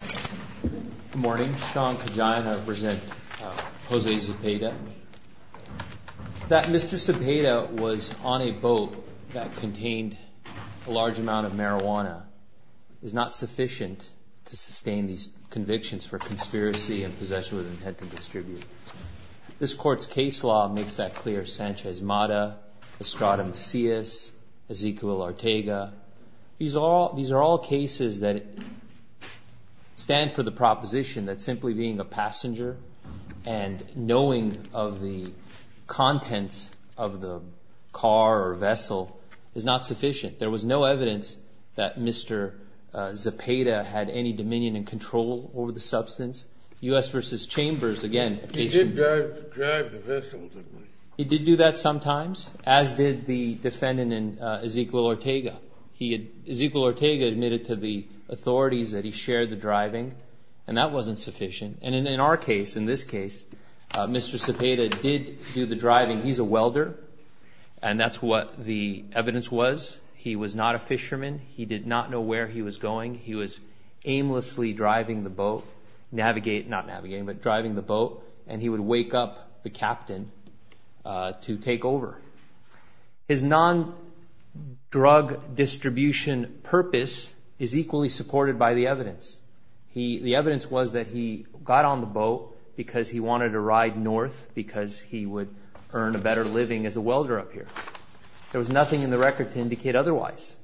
Good morning. Sean Kajian, I represent Jose Zepeda. That Mr. Zepeda was on a boat that contained a large amount of marijuana is not sufficient to sustain these convictions for conspiracy and possession with intent to distribute. This court's case law makes that clear. Sanchez Mata, Estrada Macias, Ezequiel Ortega. These are all cases that stand for the proposition that simply being a passenger and knowing of the contents of the car or vessel is not sufficient. There was no evidence that Mr. Zepeda had any dominion and control over the substance. U.S. v. Chambers, again, a case in which- He did drive the vessel, didn't he? He did do that sometimes, as did the defendant in Ezequiel Ortega. Ezequiel Ortega admitted to the authorities that he shared the driving, and that wasn't sufficient. In our case, in this case, Mr. Zepeda did do the driving. He's a welder, and that's what the evidence was. He was not a fisherman. He did not know where he was going. He was aimlessly driving the boat, not navigating, but driving the boat, and he would wake up the captain to take over. His non-drug distribution purpose is equally supported by the evidence. The evidence was that he got on the boat because he wanted to ride north because he would earn a better living as a welder up here. There was nothing in the record to indicate otherwise.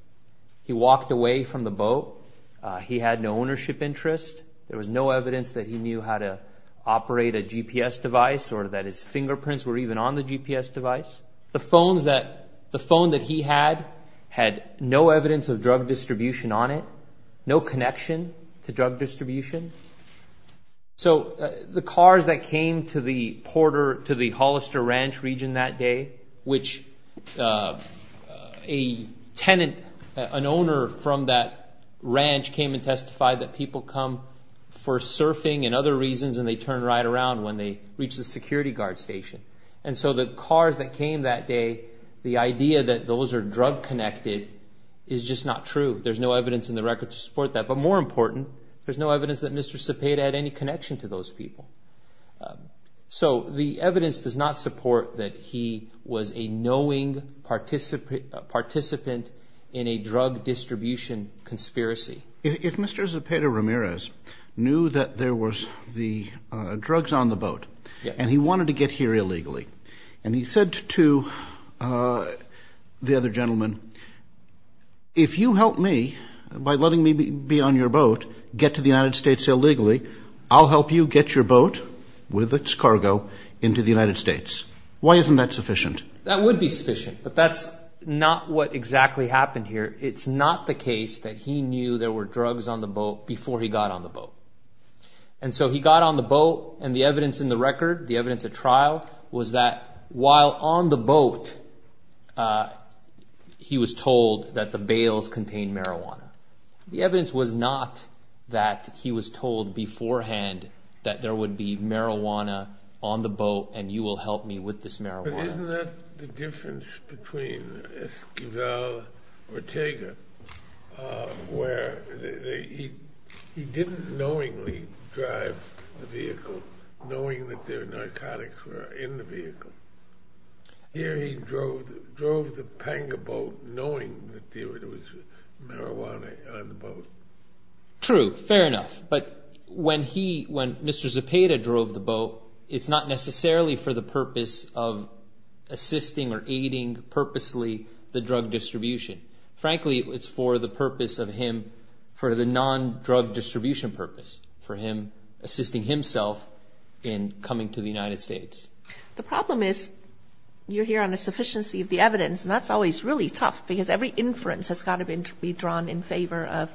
He walked away from the boat. He had no ownership interest. There was no evidence that he knew how to operate a GPS device or that his fingerprints were even on the GPS device. The phone that he had had no evidence of drug distribution on it, no connection to drug distribution. So the cars that came to the Hollister Ranch region that day, which a tenant, an owner from that ranch, came and testified that people come for surfing and other reasons and they turn right around when they reach the security guard station. And so the cars that came that day, the idea that those are drug-connected is just not true. There's no evidence in the record to support that, but more important, there's no evidence that Mr. Zepeda had any connection to those people. So the evidence does not support that he was a knowing participant in a drug distribution conspiracy. If Mr. Zepeda Ramirez knew that there was the drugs on the boat and he wanted to get here illegally and he said to the other gentleman, if you help me by letting me be on your boat, get to the United States illegally, I'll help you get your boat with its cargo into the United States. Why isn't that sufficient? That would be sufficient, but that's not what exactly happened here. It's not the case that he knew there were drugs on the boat before he got on the boat. And so he got on the boat, and the evidence in the record, the evidence at trial, was that while on the boat he was told that the bails contained marijuana. The evidence was not that he was told beforehand that there would be marijuana on the boat and you will help me with this marijuana. But isn't that the difference between Esquivel and Ortega, where he didn't knowingly drive the vehicle, knowing that there were narcotics in the vehicle. Here he drove the panga boat knowing that there was marijuana on the boat. True, fair enough, but when Mr. Zepeda drove the boat, it's not necessarily for the purpose of assisting or aiding purposely the drug distribution. Frankly, it's for the purpose of him, for the non-drug distribution purpose, for him assisting himself in coming to the United States. The problem is you're here on a sufficiency of the evidence, and that's always really tough because every inference has got to be drawn in favor of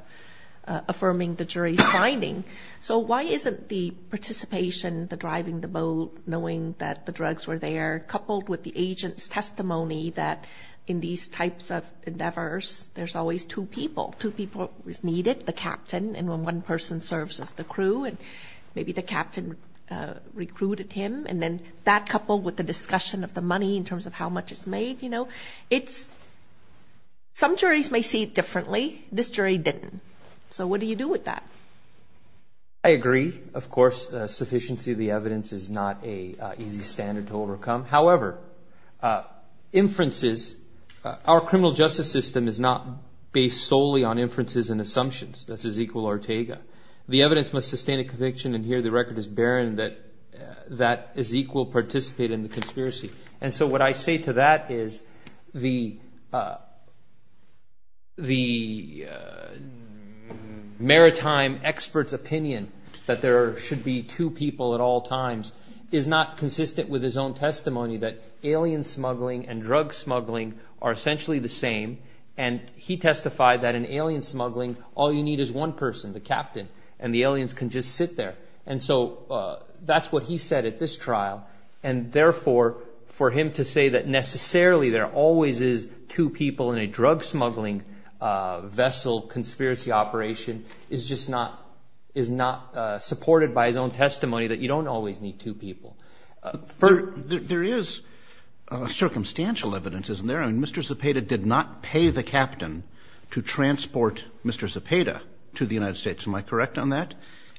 affirming the jury's finding. So why isn't the participation, the driving the boat, knowing that the drugs were there, coupled with the agent's testimony that in these types of endeavors, there's always two people. Two people is needed, the captain, and when one person serves as the crew, and maybe the captain recruited him, and then that coupled with the discussion of the money in terms of how much is made. Some juries may see it differently. This jury didn't. So what do you do with that? I agree. Of course, sufficiency of the evidence is not an easy standard to overcome. However, inferences, our criminal justice system is not based solely on inferences and assumptions. That's Ezequiel Ortega. The evidence must sustain a conviction, and here the record is barren that Ezequiel participated in the conspiracy. And so what I say to that is the maritime expert's opinion that there should be two people at all times is not consistent with his own testimony that alien smuggling and drug smuggling are essentially the same, and he testified that in alien smuggling, all you need is one person, the captain, and the aliens can just sit there. And so that's what he said at this trial, and therefore for him to say that necessarily there always is two people in a drug smuggling vessel conspiracy operation is just not supported by his own testimony that you don't always need two people. There is circumstantial evidence, isn't there? Mr. Zepeda did not pay the captain to transport Mr. Zepeda to the United States. Am I correct on that?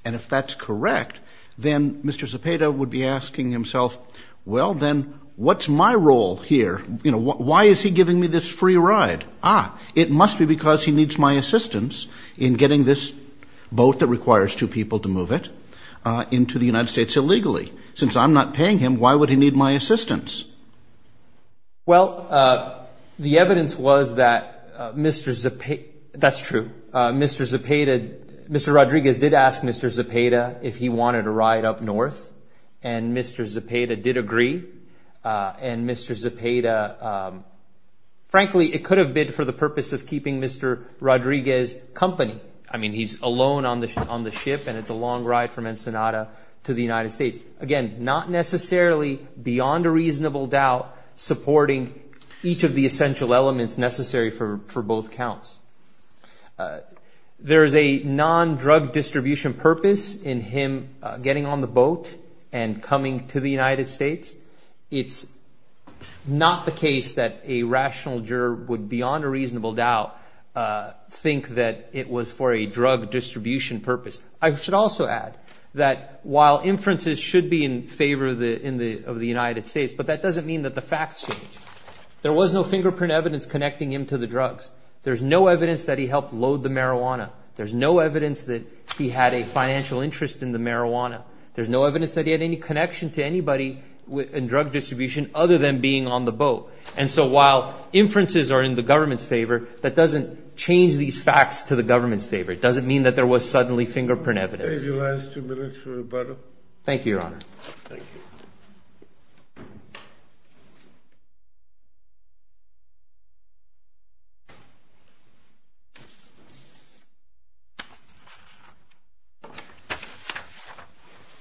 And if that's correct, then Mr. Zepeda would be asking himself, well, then what's my role here? Why is he giving me this free ride? Ah, it must be because he needs my assistance in getting this boat that requires two people to move it into the United States illegally. Since I'm not paying him, why would he need my assistance? Well, the evidence was that Mr. Zepeda, that's true, Mr. Zepeda, Mr. Rodriguez did ask Mr. Zepeda if he wanted a ride up north, and Mr. Zepeda did agree, and Mr. Zepeda, frankly, it could have been for the purpose of keeping Mr. Rodriguez company. I mean, he's alone on the ship, and it's a long ride from Ensenada to the United States. Again, not necessarily beyond a reasonable doubt supporting each of the essential elements necessary for both counts. There is a non-drug distribution purpose in him getting on the boat and coming to the United States. It's not the case that a rational juror would beyond a reasonable doubt think that it was for a drug distribution purpose. I should also add that while inferences should be in favor of the United States, but that doesn't mean that the facts change. There was no fingerprint evidence connecting him to the drugs. There's no evidence that he helped load the marijuana. There's no evidence that he had a financial interest in the marijuana. There's no evidence that he had any connection to anybody in drug distribution other than being on the boat. And so while inferences are in the government's favor, that doesn't change these facts to the government's favor. It doesn't mean that there was suddenly fingerprint evidence. Thank you, Your Honor.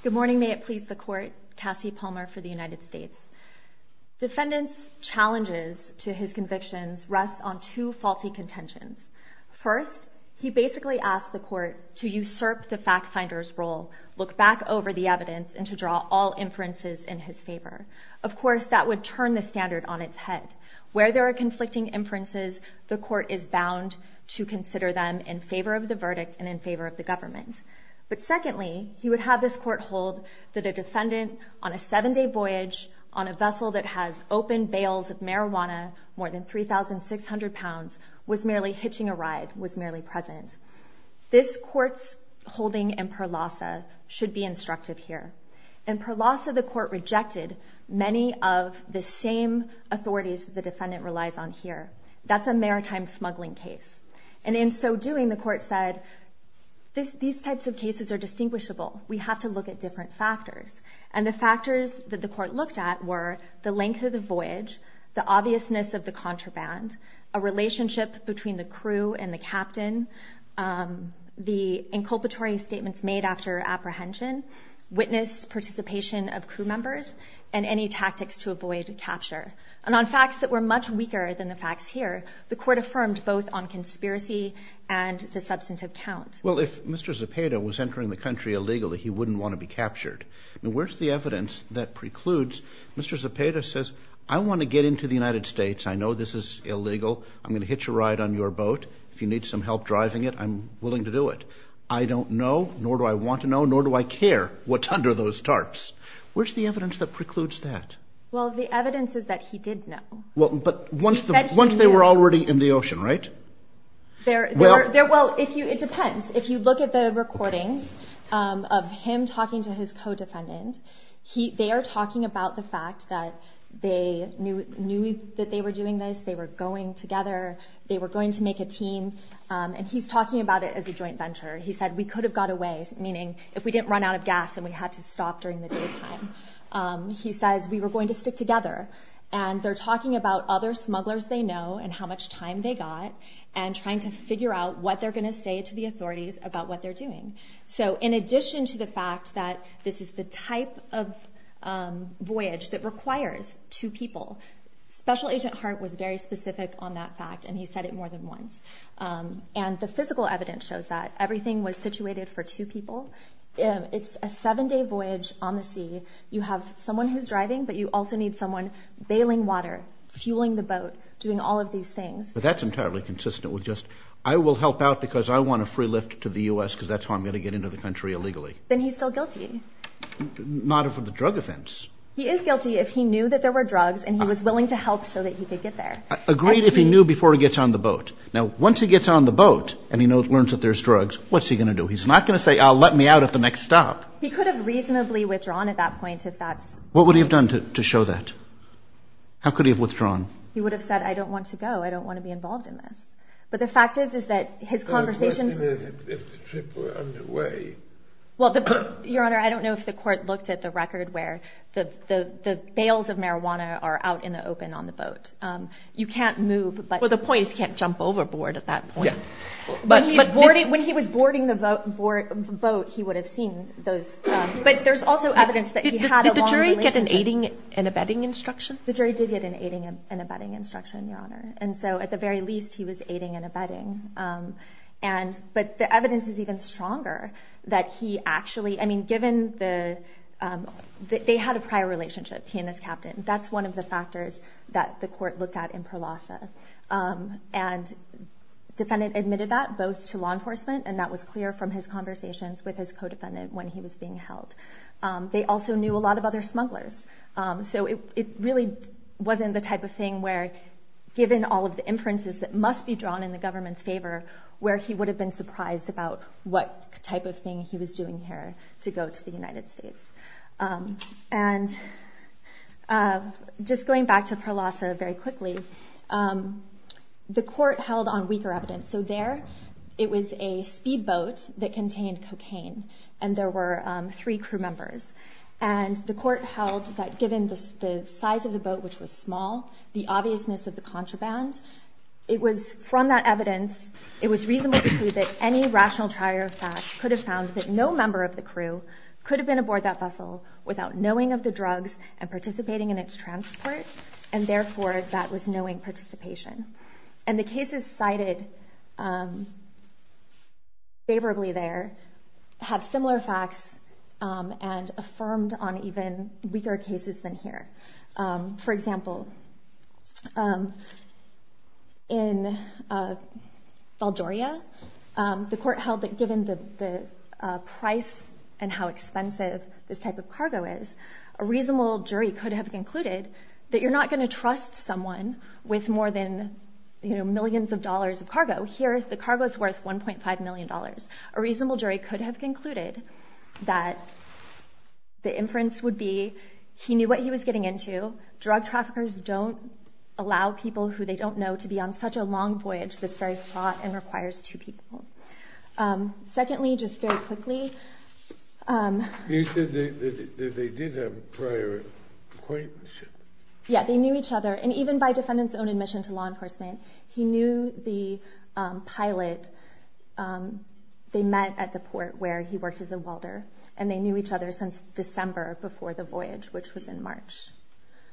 Good morning. May it please the Court. Cassie Palmer for the United States. Defendant's challenges to his convictions rest on two faulty contentions. First, he basically asked the Court to usurp the fact finder's role, look back over the evidence, and to draw all inferences in his favor. Of course, that would turn the standard on its head. Where there are conflicting inferences, the Court is bound to consider them in favor of the verdict and in favor of the government. But secondly, he would have this Court hold that a defendant on a seven-day voyage on a vessel that has open bales of marijuana, more than 3,600 pounds, was merely hitching a ride, was merely present. This Court's holding in Perlasa should be instructive here. In Perlasa, the Court rejected many of the same authorities the defendant relies on here. That's a maritime smuggling case. And in so doing, the Court said, these types of cases are distinguishable. We have to look at different factors. And the factors that the Court looked at were the length of the voyage, the obviousness of the contraband, a relationship between the crew and the captain, the inculpatory statements made after apprehension, witness participation of crew members, and any tactics to avoid capture. And on facts that were much weaker than the facts here, the Court affirmed both on conspiracy and the substantive count. Well, if Mr. Zepeda was entering the country illegally, he wouldn't want to be captured. Where's the evidence that precludes? Mr. Zepeda says, I want to get into the United States. I know this is illegal. I'm going to hitch a ride on your boat. If you need some help driving it, I'm willing to do it. I don't know, nor do I want to know, nor do I care what's under those tarps. Where's the evidence that precludes that? Well, the evidence is that he did know. But once they were already in the ocean, right? Well, it depends. If you look at the recordings of him talking to his co-defendant, they are talking about the fact that they knew that they were doing this. They were going together. They were going to make a team. And he's talking about it as a joint venture. He said, we could have got away, meaning if we didn't run out of gas and we had to stop during the daytime. He says, we were going to stick together. And they're talking about other smugglers they know and how much time they got and trying to figure out what they're going to say to the authorities about what they're doing. So in addition to the fact that this is the type of voyage that requires two people, Special Agent Hart was very specific on that fact. And he said it more than once. And the physical evidence shows that. Everything was situated for two people. It's a seven-day voyage on the sea. You have someone who's driving, but you also need someone bailing water, fueling the boat, doing all of these things. But that's entirely consistent with just, I will help out because I want a free lift to the U.S. because that's how I'm going to get into the country illegally. Then he's still guilty. Not of the drug offense. He is guilty if he knew that there were drugs and he was willing to help so that he could get there. Agreed if he knew before he gets on the boat. Now, once he gets on the boat and he learns that there's drugs, what's he going to do? He's not going to say, I'll let me out at the next stop. He could have reasonably withdrawn at that point if that's. What would he have done to show that? How could he have withdrawn? He would have said, I don't want to go. I don't want to be involved in this. But the fact is, is that his conversation. If the trip were underway. Well, Your Honor, I don't know if the court looked at the record where the bails of marijuana are out in the open on the boat. You can't move. But the point is you can't jump overboard at that point. When he was boarding the boat, he would have seen those. But there's also evidence that he had a long relationship. Did the jury get an aiding and abetting instruction? The jury did get an aiding and abetting instruction, Your Honor. And so at the very least, he was aiding and abetting. But the evidence is even stronger that he actually. I mean, given the. They had a prior relationship, he and his captain. That's one of the factors that the court looked at in Perlasa. And the defendant admitted that both to law enforcement. And that was clear from his conversations with his co-defendant when he was being held. They also knew a lot of other smugglers. So it really wasn't the type of thing where given all of the inferences that must be drawn in the government's favor. Where he would have been surprised about what type of thing he was doing here to go to the United States. And just going back to Perlasa very quickly. The court held on weaker evidence. So there it was a speedboat that contained cocaine. And there were three crew members. And the court held that given the size of the boat, which was small. The obviousness of the contraband. It was from that evidence. It was reasonable to conclude that any rational trier of facts could have found that no member of the crew. Could have been aboard that vessel without knowing of the drugs and participating in its transport. And therefore, that was knowing participation. And the cases cited favorably there. Have similar facts and affirmed on even weaker cases than here. For example, in Valdoria. The court held that given the price and how expensive this type of cargo is. A reasonable jury could have concluded that you're not going to trust someone with more than millions of dollars of cargo. Here the cargo is worth 1.5 million dollars. A reasonable jury could have concluded that the inference would be he knew what he was getting into. Drug traffickers don't allow people who they don't know to be on such a long voyage that's very fraught and requires two people. Secondly, just very quickly. You said they did have prior acquaintances. Yeah, they knew each other. And even by defendant's own admission to law enforcement. He knew the pilot they met at the port where he worked as a welder. And they knew each other since December before the voyage which was in March.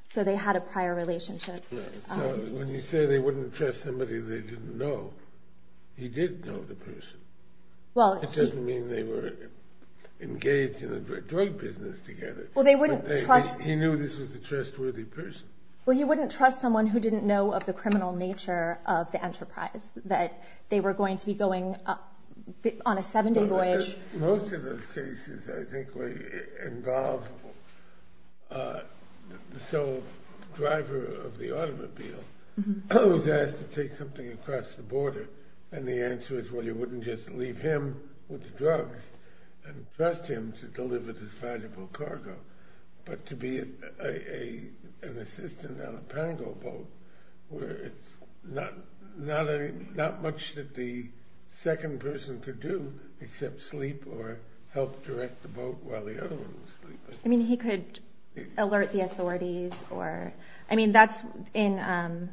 So they had a prior relationship. So when you say they wouldn't trust somebody they didn't know. He did know the person. It doesn't mean they were engaged in the drug business together. He knew this was a trustworthy person. Well you wouldn't trust someone who didn't know of the criminal nature of the enterprise. That they were going to be going on a seven day voyage. Most of those cases I think involve the driver of the automobile who's asked to take something across the border. And the answer is well you wouldn't just leave him with the drugs and trust him to deliver this valuable cargo. But to be an assistant on a pango boat where it's not much that the second person could do. Except sleep or help direct the boat while the other one was sleeping. I mean he could alert the authorities. I mean that's in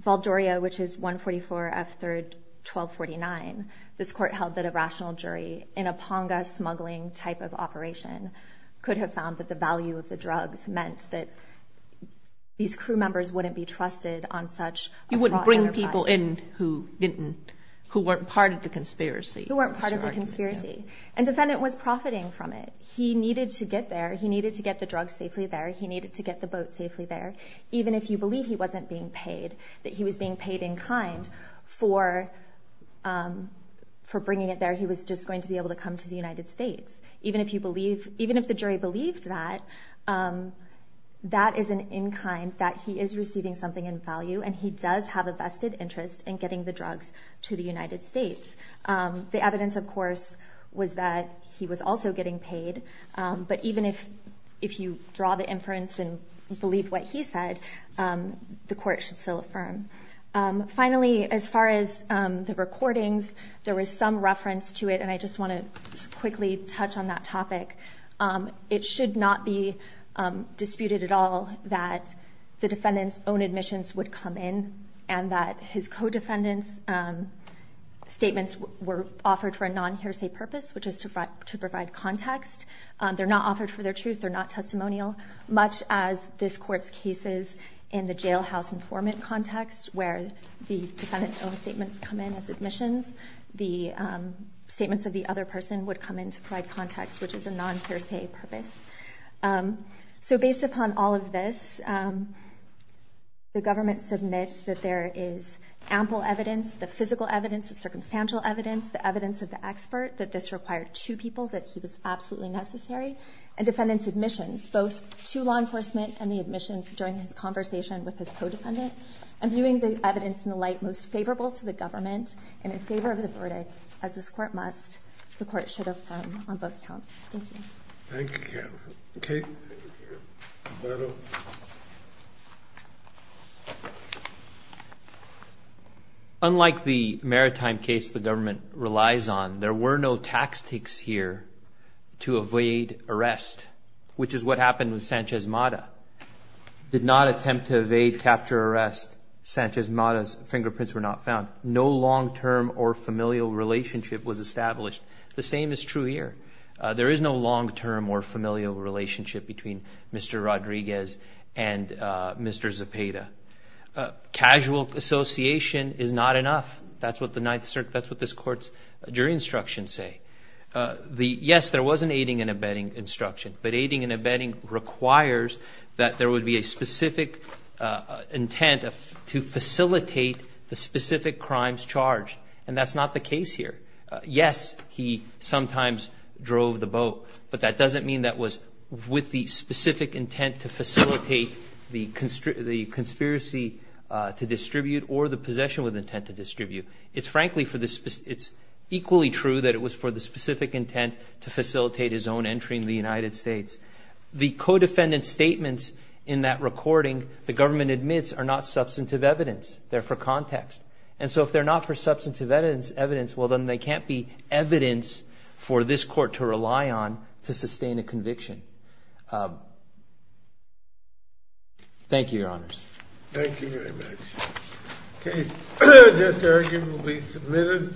Valdoria which is 144 F 3rd 1249. This court held that a rational jury in a ponga smuggling type of operation could have found that the value of the drugs meant that these crew members wouldn't be trusted on such. You wouldn't bring people in who weren't part of the conspiracy. Who weren't part of the conspiracy. And the defendant was profiting from it. He needed to get there. He needed to get the drugs safely there. He needed to get the boat safely there. Even if you believe he wasn't being paid. That he was being paid in kind for bringing it there. He was just going to be able to come to the United States. Even if you believe. Even if the jury believed that. That is an in kind. That he is receiving something in value. And he does have a vested interest in getting the drugs to the United States. The evidence of course was that he was also getting paid. But even if you draw the inference and believe what he said. The court should still affirm. Finally as far as the recordings. There was some reference to it. And I just want to quickly touch on that topic. It should not be disputed at all. That the defendants own admissions would come in. And that his co-defendants statements were offered for a non hearsay purpose. Which is to provide context. They're not offered for their truth. They're not testimonial. Much as this courts cases in the jailhouse informant context. Where the defendants own statements come in as admissions. The statements of the other person would come in to provide context. Which is a non hearsay purpose. So based upon all of this. The government submits that there is ample evidence. The physical evidence. The circumstantial evidence. The evidence of the expert. That this required two people. That he was absolutely necessary. And defendants admissions. Both to law enforcement. And the admissions during his conversation with his co-defendant. And viewing the evidence in the light most favorable to the government. And in favor of the verdict. As this court must. The court should affirm on both counts. Thank you. Thank you. Okay. Unlike the maritime case the government relies on. There were no tax takes here. To evade arrest. Which is what happened with Sanchez Mata. Did not attempt to evade capture arrest. Sanchez Mata's fingerprints were not found. No long-term or familial relationship was established. The same is true here. There is no long-term or familial relationship between Mr. Rodriguez and Mr. Zepeda. Casual association is not enough. That's what the Ninth Circuit. That's what this court's jury instructions say. Yes, there was an aiding and abetting instruction. But aiding and abetting requires that there would be a specific intent to facilitate the specific crimes charged. And that's not the case here. Yes, he sometimes drove the boat. But that doesn't mean that was with the specific intent to facilitate the conspiracy to distribute. Or the possession with intent to distribute. It's equally true that it was for the specific intent to facilitate his own entry into the United States. The co-defendant's statements in that recording, the government admits, are not substantive evidence. They're for context. And so if they're not for substantive evidence, well, then they can't be evidence for this court to rely on to sustain a conviction. Thank you, Your Honors. Thank you very much. Okay. This argument will be submitted.